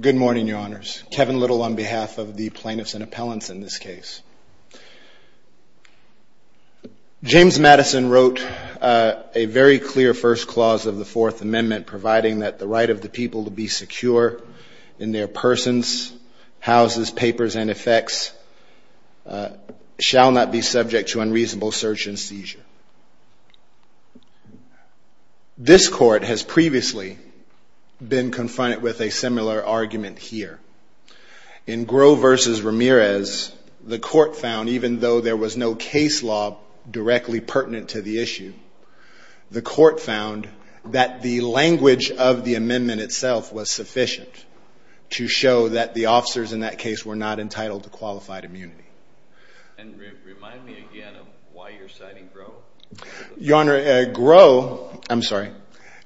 Good morning, your honors. Kevin Little on behalf of the plaintiffs and appellants in this case. James Madison wrote a very clear first clause of the Fourth Amendment providing that the right of the people to be secure in their persons, houses, papers, and effects shall not be subject to unreasonable search and seizure. This court has previously been confronted with a similar argument here. In Groh v. Ramirez, the court found, even though there was no case law directly pertinent to the issue, the court found that the language of the amendment itself was sufficient to show that the officers in that case were not entitled to qualified immunity. And remind me again of why you're citing Groh? Your honor, Groh, I'm sorry,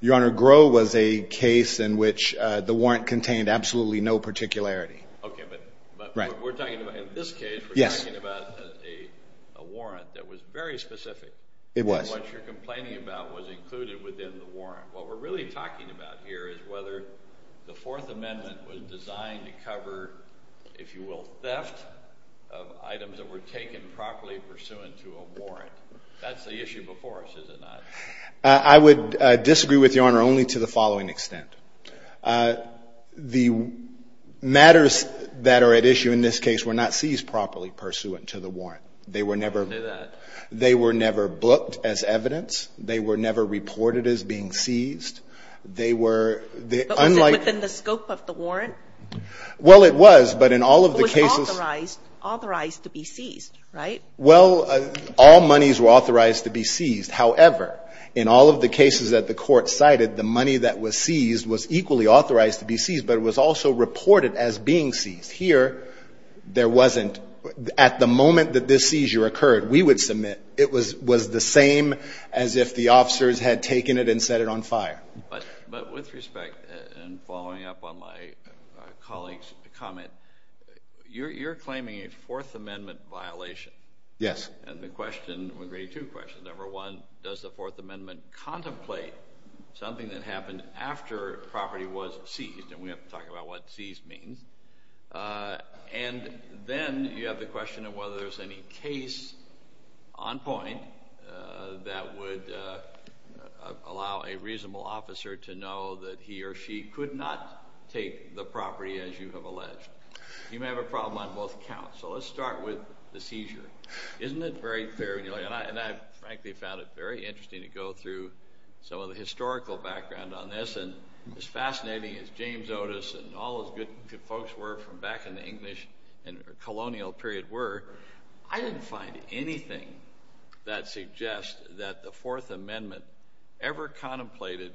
your honor, Groh was a case in which the warrant contained absolutely no particularity. Okay, but we're talking about, in this case, we're talking about a warrant that was very specific. It was. What we're really talking about here is whether the Fourth Amendment was designed to cover, if you will, theft of items that were taken properly pursuant to a warrant. That's the issue before us, is it not? I would disagree with your honor only to the following extent. The matters that are at issue in this case were not seized properly pursuant to the warrant. They were never. Say that. They were never booked as evidence. They were never reported as being seized. They were unlike. But was it within the scope of the warrant? Well, it was, but in all of the cases. But it was authorized to be seized, right? Well, all monies were authorized to be seized. However, in all of the cases that the Court cited, the money that was seized was equally authorized to be seized, but it was also reported as being seized. Here, there wasn't. At the moment that this seizure occurred, we would submit it was the same as if the officers had taken it and set it on fire. But with respect, and following up on my colleague's comment, you're claiming a Fourth Amendment violation. Yes. And the question would raise two questions. Number one, does the Fourth Amendment contemplate something that happened after property was seized? And we have to talk about what seized means. And then you have the question of whether there's any case on point that would allow a reasonable officer to know that he or she could not take the property as you have alleged. You may have a problem on both counts. So let's start with the seizure. Isn't it very fair? And I frankly found it very interesting to go through some of the historical background on this. And as fascinating as James Otis and all those good folks were from back in the English and colonial period were, I didn't find anything that suggests that the Fourth Amendment ever contemplated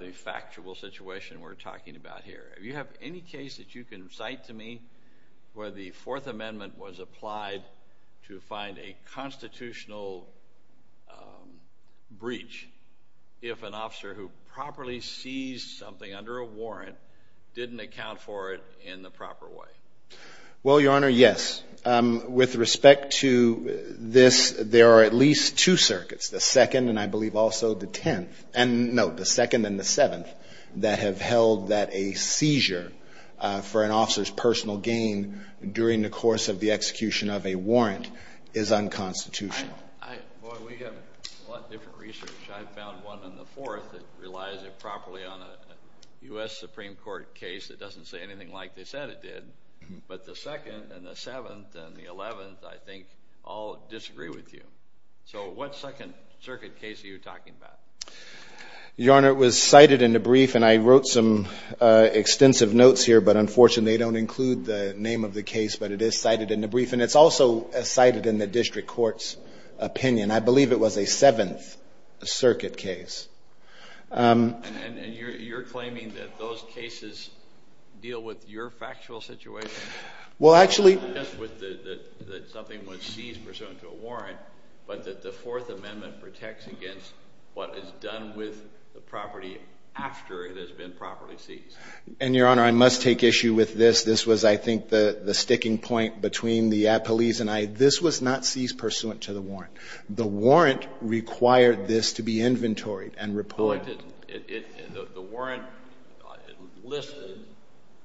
the factual situation we're talking about here. Do you have any case that you can cite to me where the Fourth Amendment was applied to find a constitutional breach if an officer who properly seized something under a warrant didn't account for it in the proper way? Well, Your Honor, yes. With respect to this, there are at least two circuits, the second and I believe also the tenth. And no, the second and the seventh that have held that a seizure for an officer's personal gain during the course of the execution of a warrant is unconstitutional. Boy, we have a lot of different research. I found one in the fourth that relies improperly on a U.S. Supreme Court case that doesn't say anything like they said it did. But the second and the seventh and the eleventh I think all disagree with you. So what second circuit case are you talking about? Your Honor, it was cited in the brief and I wrote some extensive notes here, but unfortunately they don't include the name of the case, but it is cited in the brief. And it's also cited in the district court's opinion. I believe it was a seventh circuit case. And you're claiming that those cases deal with your factual situation? Well, actually... Not just that something was seized pursuant to a warrant, but that the Fourth Amendment protects against what is done with the property after it has been properly seized. And, Your Honor, I must take issue with this. This was, I think, the sticking point between the police and I. This was not seized pursuant to the warrant. The warrant required this to be inventoried and reported. But the warrant listed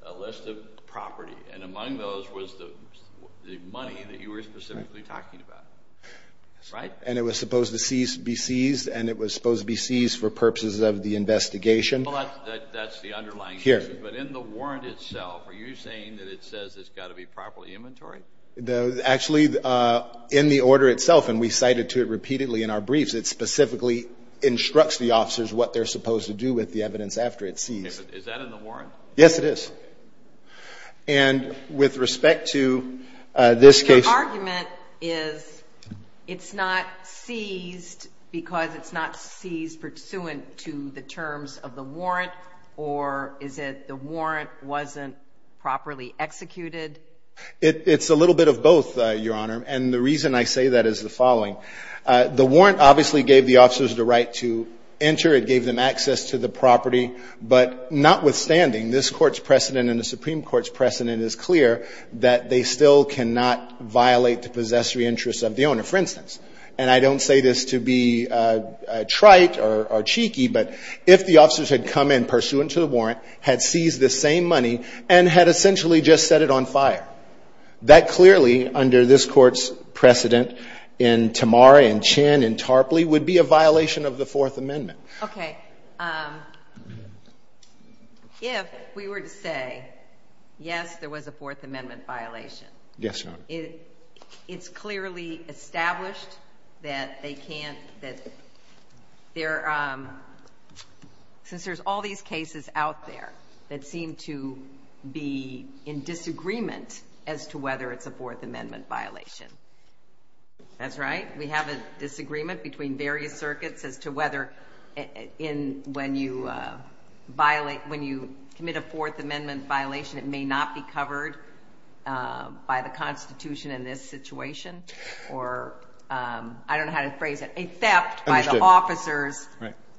a list of property, and among those was the money that you were specifically talking about. Right? And it was supposed to be seized, and it was supposed to be seized for purposes of the investigation. Well, that's the underlying issue. Here. But in the warrant itself, are you saying that it says it's got to be properly inventoried? Actually, in the order itself, and we cited to it repeatedly in our briefs, it specifically instructs the officers what they're supposed to do with the evidence after it's seized. Is that in the warrant? Yes, it is. And with respect to this case... The argument is it's not seized because it's not seized pursuant to the terms of the warrant, or is it the warrant wasn't properly executed? It's a little bit of both, Your Honor, and the reason I say that is the following. The warrant obviously gave the officers the right to enter. It gave them access to the property. But notwithstanding, this Court's precedent and the Supreme Court's precedent is clear that they still cannot violate the possessory interests of the owner. For instance, and I don't say this to be trite or cheeky, but if the officers had come in pursuant to the warrant, had seized the same money, and had essentially just set it on fire, that clearly, under this Court's precedent, in Tamara and Chinn and Tarpley, would be a violation of the Fourth Amendment. Okay. If we were to say, yes, there was a Fourth Amendment violation... Yes, Your Honor. It's clearly established that they can't, that there, since there's all these cases out there that seem to be in disagreement as to whether it's a Fourth Amendment violation. That's right. We have a disagreement between various circuits as to whether when you violate, when you commit a Fourth Amendment violation, it may not be covered by the Constitution in this situation. Or I don't know how to phrase it. A theft by the officers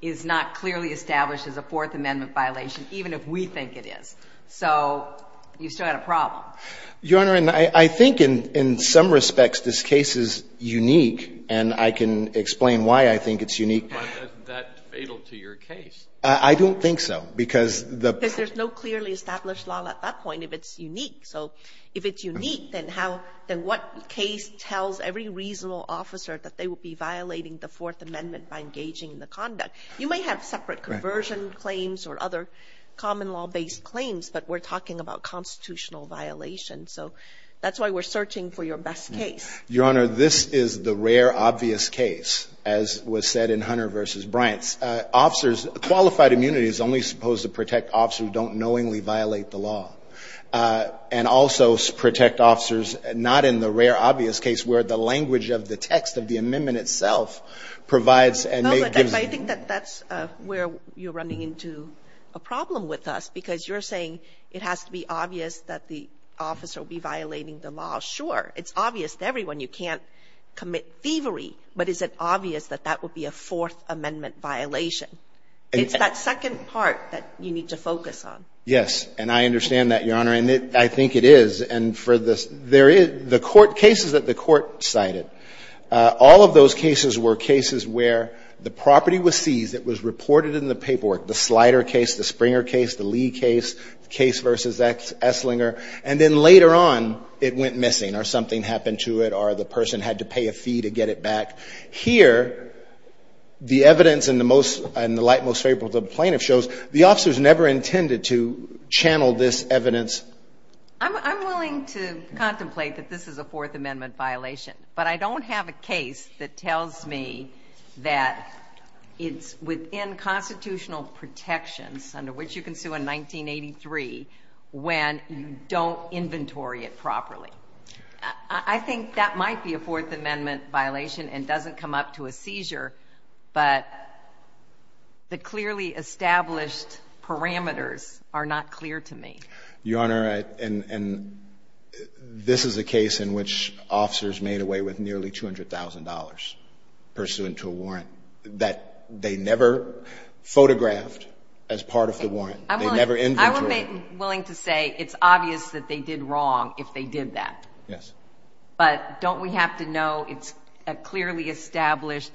is not clearly established as a Fourth Amendment violation, even if we think it is. So you've still got a problem. Your Honor, I think in some respects this case is unique, and I can explain why I think it's unique. But isn't that fatal to your case? I don't think so, because the... Because there's no clearly established law at that point if it's unique. So if it's unique, then how, then what case tells every reasonable officer that they would be violating the Fourth Amendment by engaging in the conduct? You may have separate conversion claims or other common law-based claims, but we're that's why we're searching for your best case. Your Honor, this is the rare obvious case, as was said in Hunter v. Bryant's. Officers, qualified immunity is only supposed to protect officers who don't knowingly violate the law, and also protect officers not in the rare obvious case where the language of the text of the amendment itself provides and may give... No, but I think that that's where you're running into a problem with us, because you're saying it has to be obvious that the officer will be violating the law. Sure, it's obvious to everyone you can't commit thievery, but is it obvious that that would be a Fourth Amendment violation? It's that second part that you need to focus on. Yes, and I understand that, Your Honor, and I think it is. And for the... There is... The court cases that the court cited, all of those cases were cases where the property was seized. It was reported in the paperwork. The Slider case, the Springer case, the Lee case, the case versus Esslinger. And then later on, it went missing, or something happened to it, or the person had to pay a fee to get it back. Here, the evidence and the light most favorable to the plaintiff shows the officers never intended to channel this evidence. I'm willing to contemplate that this is a Fourth Amendment violation, but I don't have a case that tells me that it's within constitutional protections, under which you can sue in 1983, when you don't inventory it properly. I think that might be a Fourth Amendment violation and doesn't come up to a seizure, but the clearly established parameters are not clear to me. Your Honor, and this is a case in which officers made away with nearly $200,000 pursuant to a warrant that they never photographed as part of the warrant. They never inventoryed it. I would be willing to say it's obvious that they did wrong if they did that. Yes. But don't we have to know it's a clearly established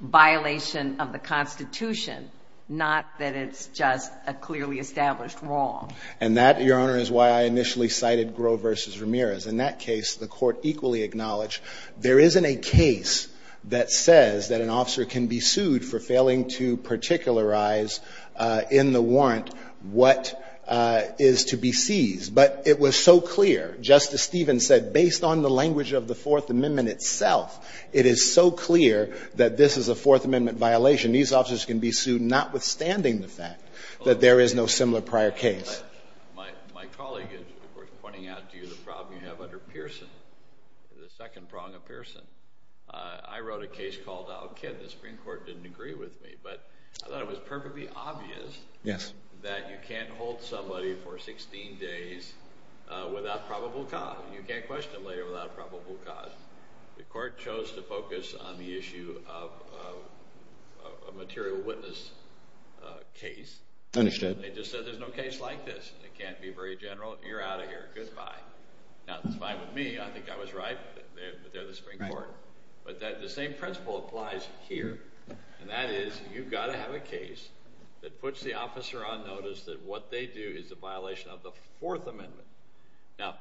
violation of the Constitution, not that it's just a clearly established wrong? And that, Your Honor, is why I initially cited Groh v. Ramirez. In that case, the Court equally acknowledged there isn't a case that says that an officer can be sued for failing to particularize in the warrant what is to be seized. But it was so clear, Justice Stevens said, based on the language of the Fourth Amendment itself, it is so clear that this is a Fourth Amendment violation. These officers can be sued notwithstanding the fact that there is no similar prior case. My colleague is, of course, pointing out to you the problem you have under Pearson, the second prong of Pearson. I wrote a case called Al-Kid. The Supreme Court didn't agree with me, but I thought it was perfectly obvious that you can't hold somebody for 16 days without probable cause. You can't question a lawyer without a probable cause. The Court chose to focus on the issue of a material witness case. Understood. They just said there's no case like this. It can't be very general. You're out of here. Goodbye. Now, that's fine with me. I think I was right, but they're the Supreme Court. But the same principle applies here, and that is you've got to have a case that puts the officer on notice that what they do is a violation of the Fourth Amendment. Now,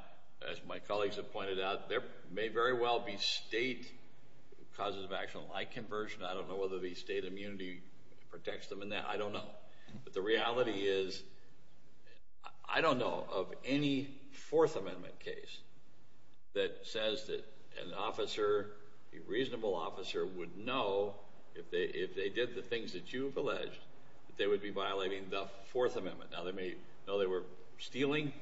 as my colleagues have pointed out, there may very well be state causes of action like conversion. I don't know whether the state immunity protects them in that. I don't know. But the reality is I don't know of any Fourth Amendment case that says that an officer, a reasonable officer, would know if they did the things that you've alleged that they would be violating the Fourth Amendment. Now, they may know they were stealing.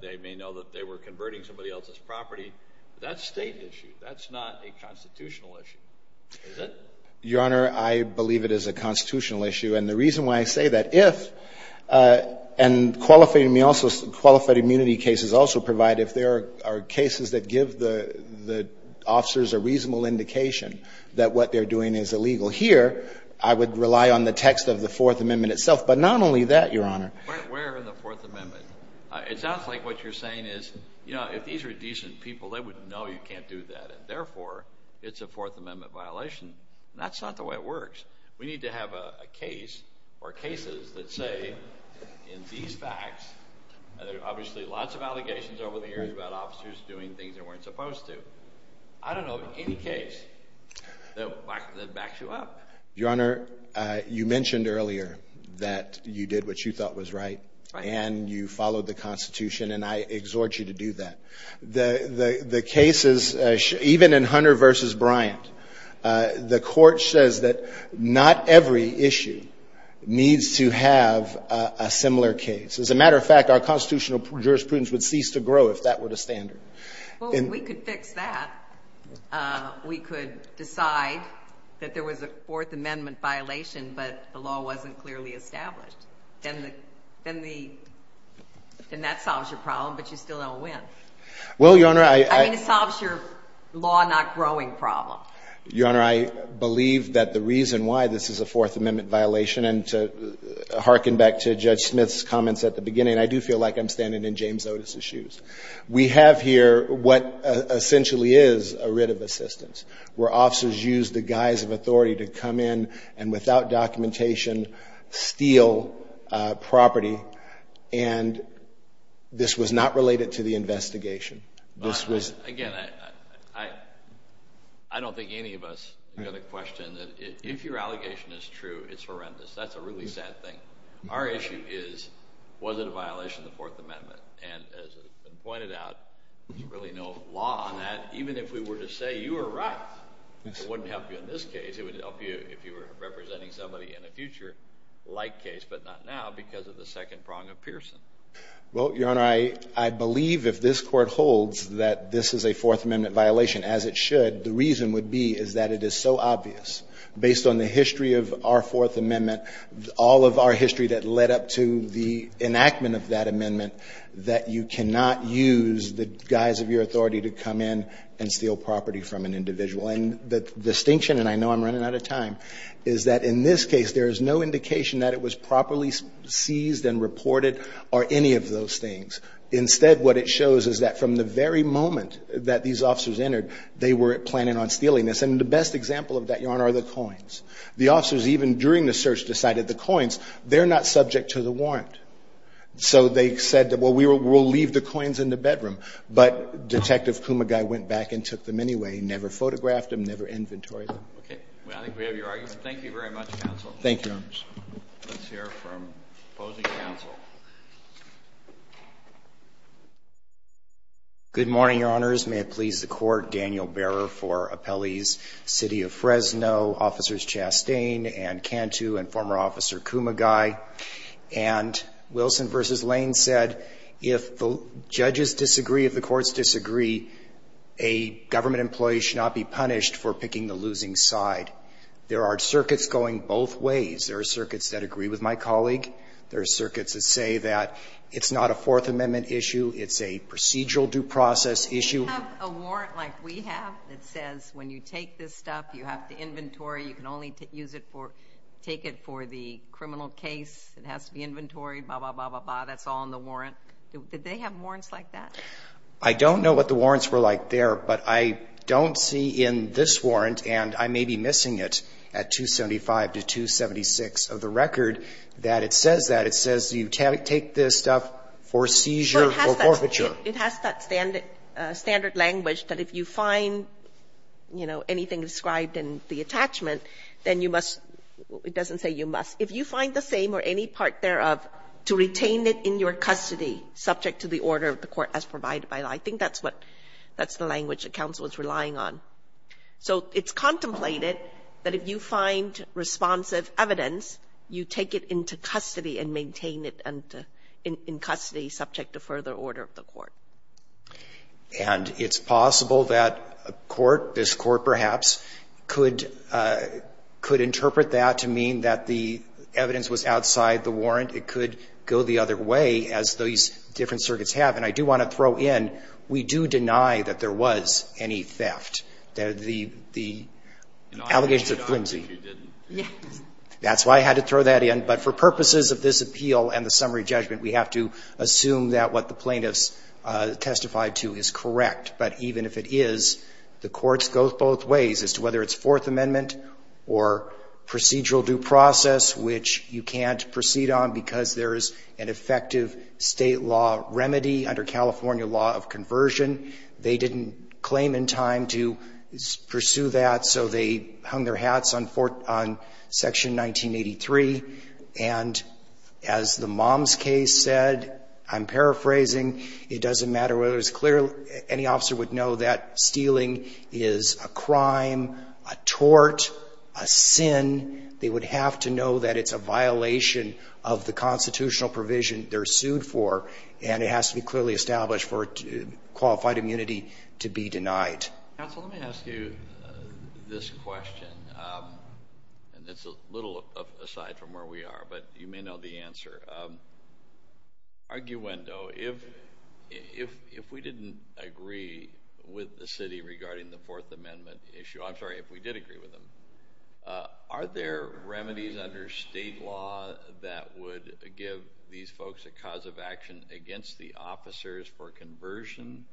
They may know that they were converting somebody else's property. That's a state issue. That's not a constitutional issue, is it? Your Honor, I believe it is a constitutional issue. And the reason why I say that, if, and qualified immunity cases also provide, if there are cases that give the officers a reasonable indication that what they're doing is illegal here, I would rely on the text of the Fourth Amendment itself. But not only that, Your Honor. Where in the Fourth Amendment? It sounds like what you're saying is, you know, if these were decent people, they would know you can't do that. Therefore, it's a Fourth Amendment violation. That's not the way it works. We need to have a case or cases that say, in these facts, there are obviously lots of allegations over the years about officers doing things they weren't supposed to. I don't know of any case that backs you up. Your Honor, you mentioned earlier that you did what you thought was right. And you followed the Constitution. And I exhort you to do that. The cases, even in Hunter v. Bryant, the Court says that not every issue needs to have a similar case. As a matter of fact, our constitutional jurisprudence would cease to grow if that were the standard. Well, we could fix that. We could decide that there was a Fourth Amendment violation, but the law wasn't clearly established. And that solves your problem, but you still don't win. Well, Your Honor, I — I mean, it solves your law-not-growing problem. Your Honor, I believe that the reason why this is a Fourth Amendment violation and to hearken back to Judge Smith's comments at the beginning, I do feel like I'm standing in James Otis's shoes. We have here what essentially is a writ of assistance, where officers use the guise of authority to come in and, without documentation, steal property. And this was not related to the investigation. This was — Again, I don't think any of us have a question that if your allegation is true, it's horrendous. That's a really sad thing. Our issue is, was it a violation of the Fourth Amendment? And as has been pointed out, there's really no law on that. Even if we were to say you were right, it wouldn't help you in this case. It would help you if you were representing somebody in a future-like case, but not now because of the second prong of Pearson. Well, Your Honor, I believe if this Court holds that this is a Fourth Amendment violation, as it should, the reason would be is that it is so obvious, based on the history of our Fourth Amendment, all of our history that led up to the enactment of that amendment, that you cannot use the guise of your authority to come in and steal property from an individual. And the distinction, and I know I'm running out of time, is that in this case there is no indication that it was properly seized and reported or any of those things. Instead, what it shows is that from the very moment that these officers entered, they were planning on stealing this. And the best example of that, Your Honor, are the coins. The officers, even during the search, decided the coins, they're not subject to the warrant. So they said, well, we'll leave the coins in the bedroom. But Detective Kumagai went back and took them anyway, never photographed them, never inventoried them. Okay. Well, I think we have your argument. Thank you very much, counsel. Thank you, Your Honors. Let's hear from opposing counsel. Good morning, Your Honors. May it please the Court. Daniel Berer for Appellees, City of Fresno, Officers Chastain and Cantu and former Officer Kumagai. And Wilson v. Lane said if the judges disagree, if the courts disagree, a government employee should not be punished for picking the losing side. There are circuits going both ways. There are circuits that agree with my colleague. There are circuits that say that it's not a Fourth Amendment issue, it's a procedural due process issue. Do you have a warrant like we have that says when you take this stuff, you have to inventory, you can only take it for the criminal case, it has to be inventoried, blah, blah, blah, blah, blah. That's all in the warrant. Did they have warrants like that? I don't know what the warrants were like there, but I don't see in this warrant, and I may be missing it at 275 to 276 of the record, that it says that. It says you take this stuff for seizure or forfeiture. It has that standard language that if you find, you know, anything described in the attachment, then you must — it doesn't say you must. If you find the same or any part thereof to retain it in your custody subject to the order of the court as provided by law. I think that's what — that's the language that counsel is relying on. So it's contemplated that if you find responsive evidence, you take it into custody and maintain it in custody subject to further order of the court. And it's possible that a court, this court perhaps, could — could interpret that to mean that the evidence was outside the warrant. It could go the other way, as those different circuits have. And I do want to throw in, we do deny that there was any theft. The — the allegations of flimsy. That's why I had to throw that in. But for purposes of this appeal and the summary judgment, we have to assume that what the plaintiffs testified to is correct. But even if it is, the courts go both ways as to whether it's Fourth Amendment or procedural due process, which you can't proceed on because there is an effective state law remedy under California law of conversion. They didn't claim in time to pursue that, so they hung their hats on Section 1983. And as the mom's case said, I'm paraphrasing, it doesn't matter whether it's clear. Any officer would know that stealing is a crime, a tort, a sin. They would have to know that it's a violation of the constitutional provision they're sued for, and it has to be clearly established for qualified immunity to be denied. Counsel, let me ask you this question. And it's a little aside from where we are, but you may know the answer. Arguendo, if we didn't agree with the city regarding the Fourth Amendment issue, I'm sorry, if we did agree with them, are there remedies under state law that would give these folks a cause of action against the officers for conversion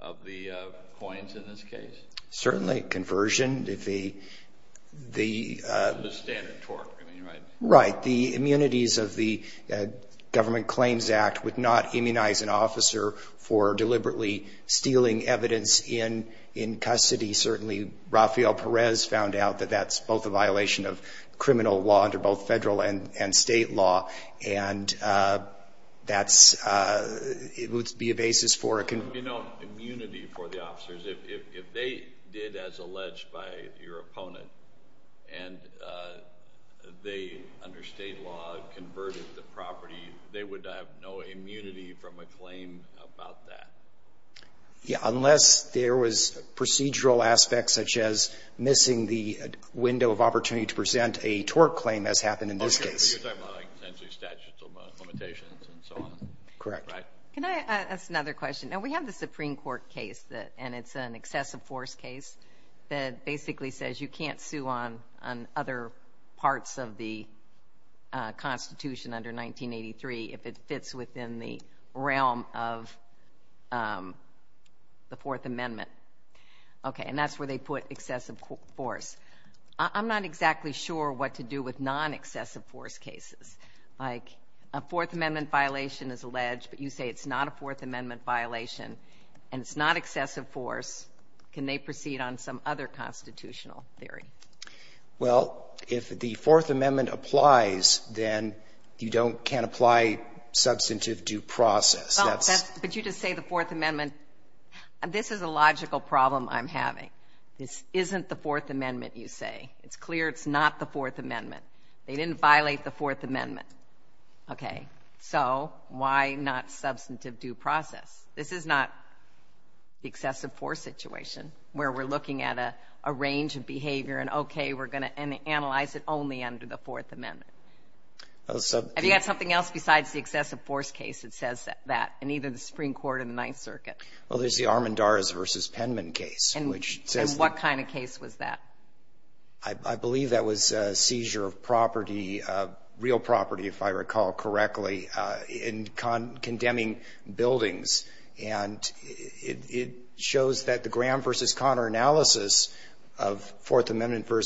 of the coins in this case? Certainly conversion. The standard tort, right? Right. The immunities of the Government Claims Act would not immunize an officer for deliberately stealing evidence in custody. Certainly Rafael Perez found out that that's both a violation of criminal law under both federal and state law, and that would be a basis for a conversion. There would be no immunity for the officers. If they did, as alleged by your opponent, and they, under state law, converted the property, they would have no immunity from a claim about that. Unless there was procedural aspects, such as missing the window of opportunity to present a tort claim, as happened in this case. You're talking about essentially statutes of limitations and so on. Correct. Can I ask another question? Now, we have the Supreme Court case, and it's an excessive force case that basically says you can't sue on other parts of the Constitution under 1983 if it fits within the realm of the Fourth Amendment. And that's where they put excessive force. I'm not exactly sure what to do with non-excessive force cases. A Fourth Amendment violation is alleged, but you say it's not a Fourth Amendment violation and it's not excessive force. Can they proceed on some other constitutional theory? Well, if the Fourth Amendment applies, then you can't apply substantive due process. But you just say the Fourth Amendment. This is a logical problem I'm having. This isn't the Fourth Amendment, you say. It's clear it's not the Fourth Amendment. They didn't violate the Fourth Amendment. So why not substantive due process? This is not the excessive force situation where we're looking at a range of behavior and, okay, we're going to analyze it only under the Fourth Amendment. Have you got something else besides the excessive force case that says that in either the Supreme Court or the Ninth Circuit? Well, there's the Armendariz v. Penman case. And what kind of case was that? I believe that was seizure of property, real property, if I recall correctly, in condemning buildings. And it shows that the Graham v. Conner analysis of Fourth Amendment v.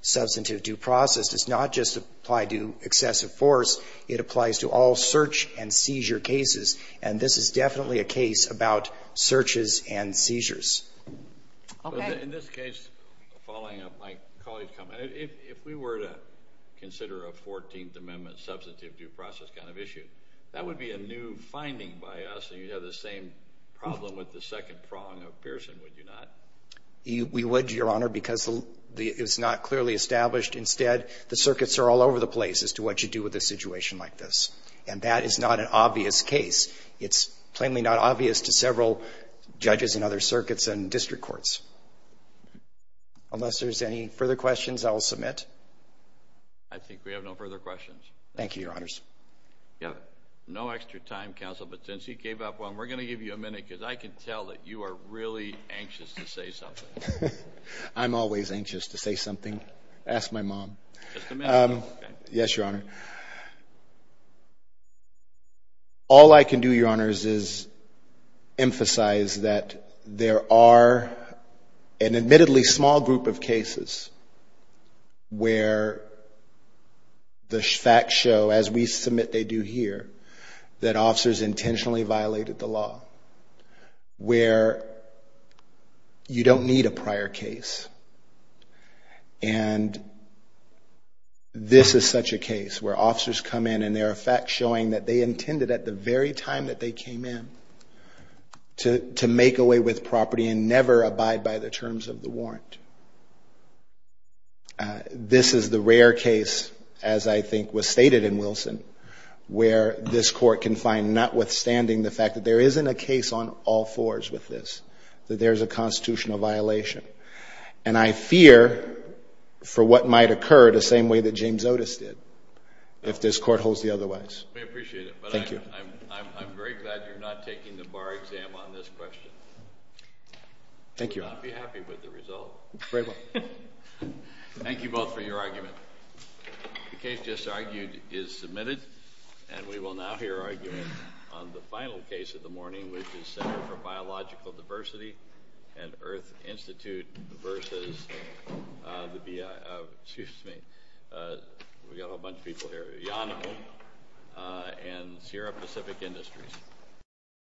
substantive due process does not just apply to excessive force. It applies to all search and seizure cases. And this is definitely a case about searches and seizures. Okay. In this case, following up my colleague's comment, if we were to consider a Fourteenth Amendment substantive due process kind of issue, that would be a new finding by us, and you'd have the same problem with the second prong of Pearson, would you not? We would, Your Honor, because it's not clearly established. Instead, the circuits are all over the place as to what you do with a situation like this. And that is not an obvious case. It's plainly not obvious to several judges in other circuits and district courts. Unless there's any further questions, I will submit. I think we have no further questions. Thank you, Your Honors. We have no extra time, Counsel, but since he gave up one, we're going to give you a minute because I can tell that you are really anxious to say something. I'm always anxious to say something. Ask my mom. Just a minute. Yes, Your Honor. All I can do, Your Honors, is emphasize that there are an admittedly small group of cases where the facts show, as we submit they do here, that officers intentionally violated the law, where you don't need a prior case. And this is such a case where officers come in and there are facts showing that they intended at the very time that they came in to make a way with property and never abide by the terms of the warrant. This is the rare case, as I think was stated in Wilson, where this court can find, notwithstanding the fact that there isn't a case on all fours with this, that there is a constitutional violation. And I fear for what might occur the same way that James Otis did if this court holds the otherwise. We appreciate it. Thank you. I'm very glad you're not taking the bar exam on this question. Thank you, Your Honor. I would not be happy with the result. Thank you both for your argument. The case just argued is submitted, and we will now hear argument on the final case of the morning, which is Center for Biological Diversity and Earth Institute versus the BIA. Excuse me. We've got a whole bunch of people here. Yonema and Sierra Pacific Industries.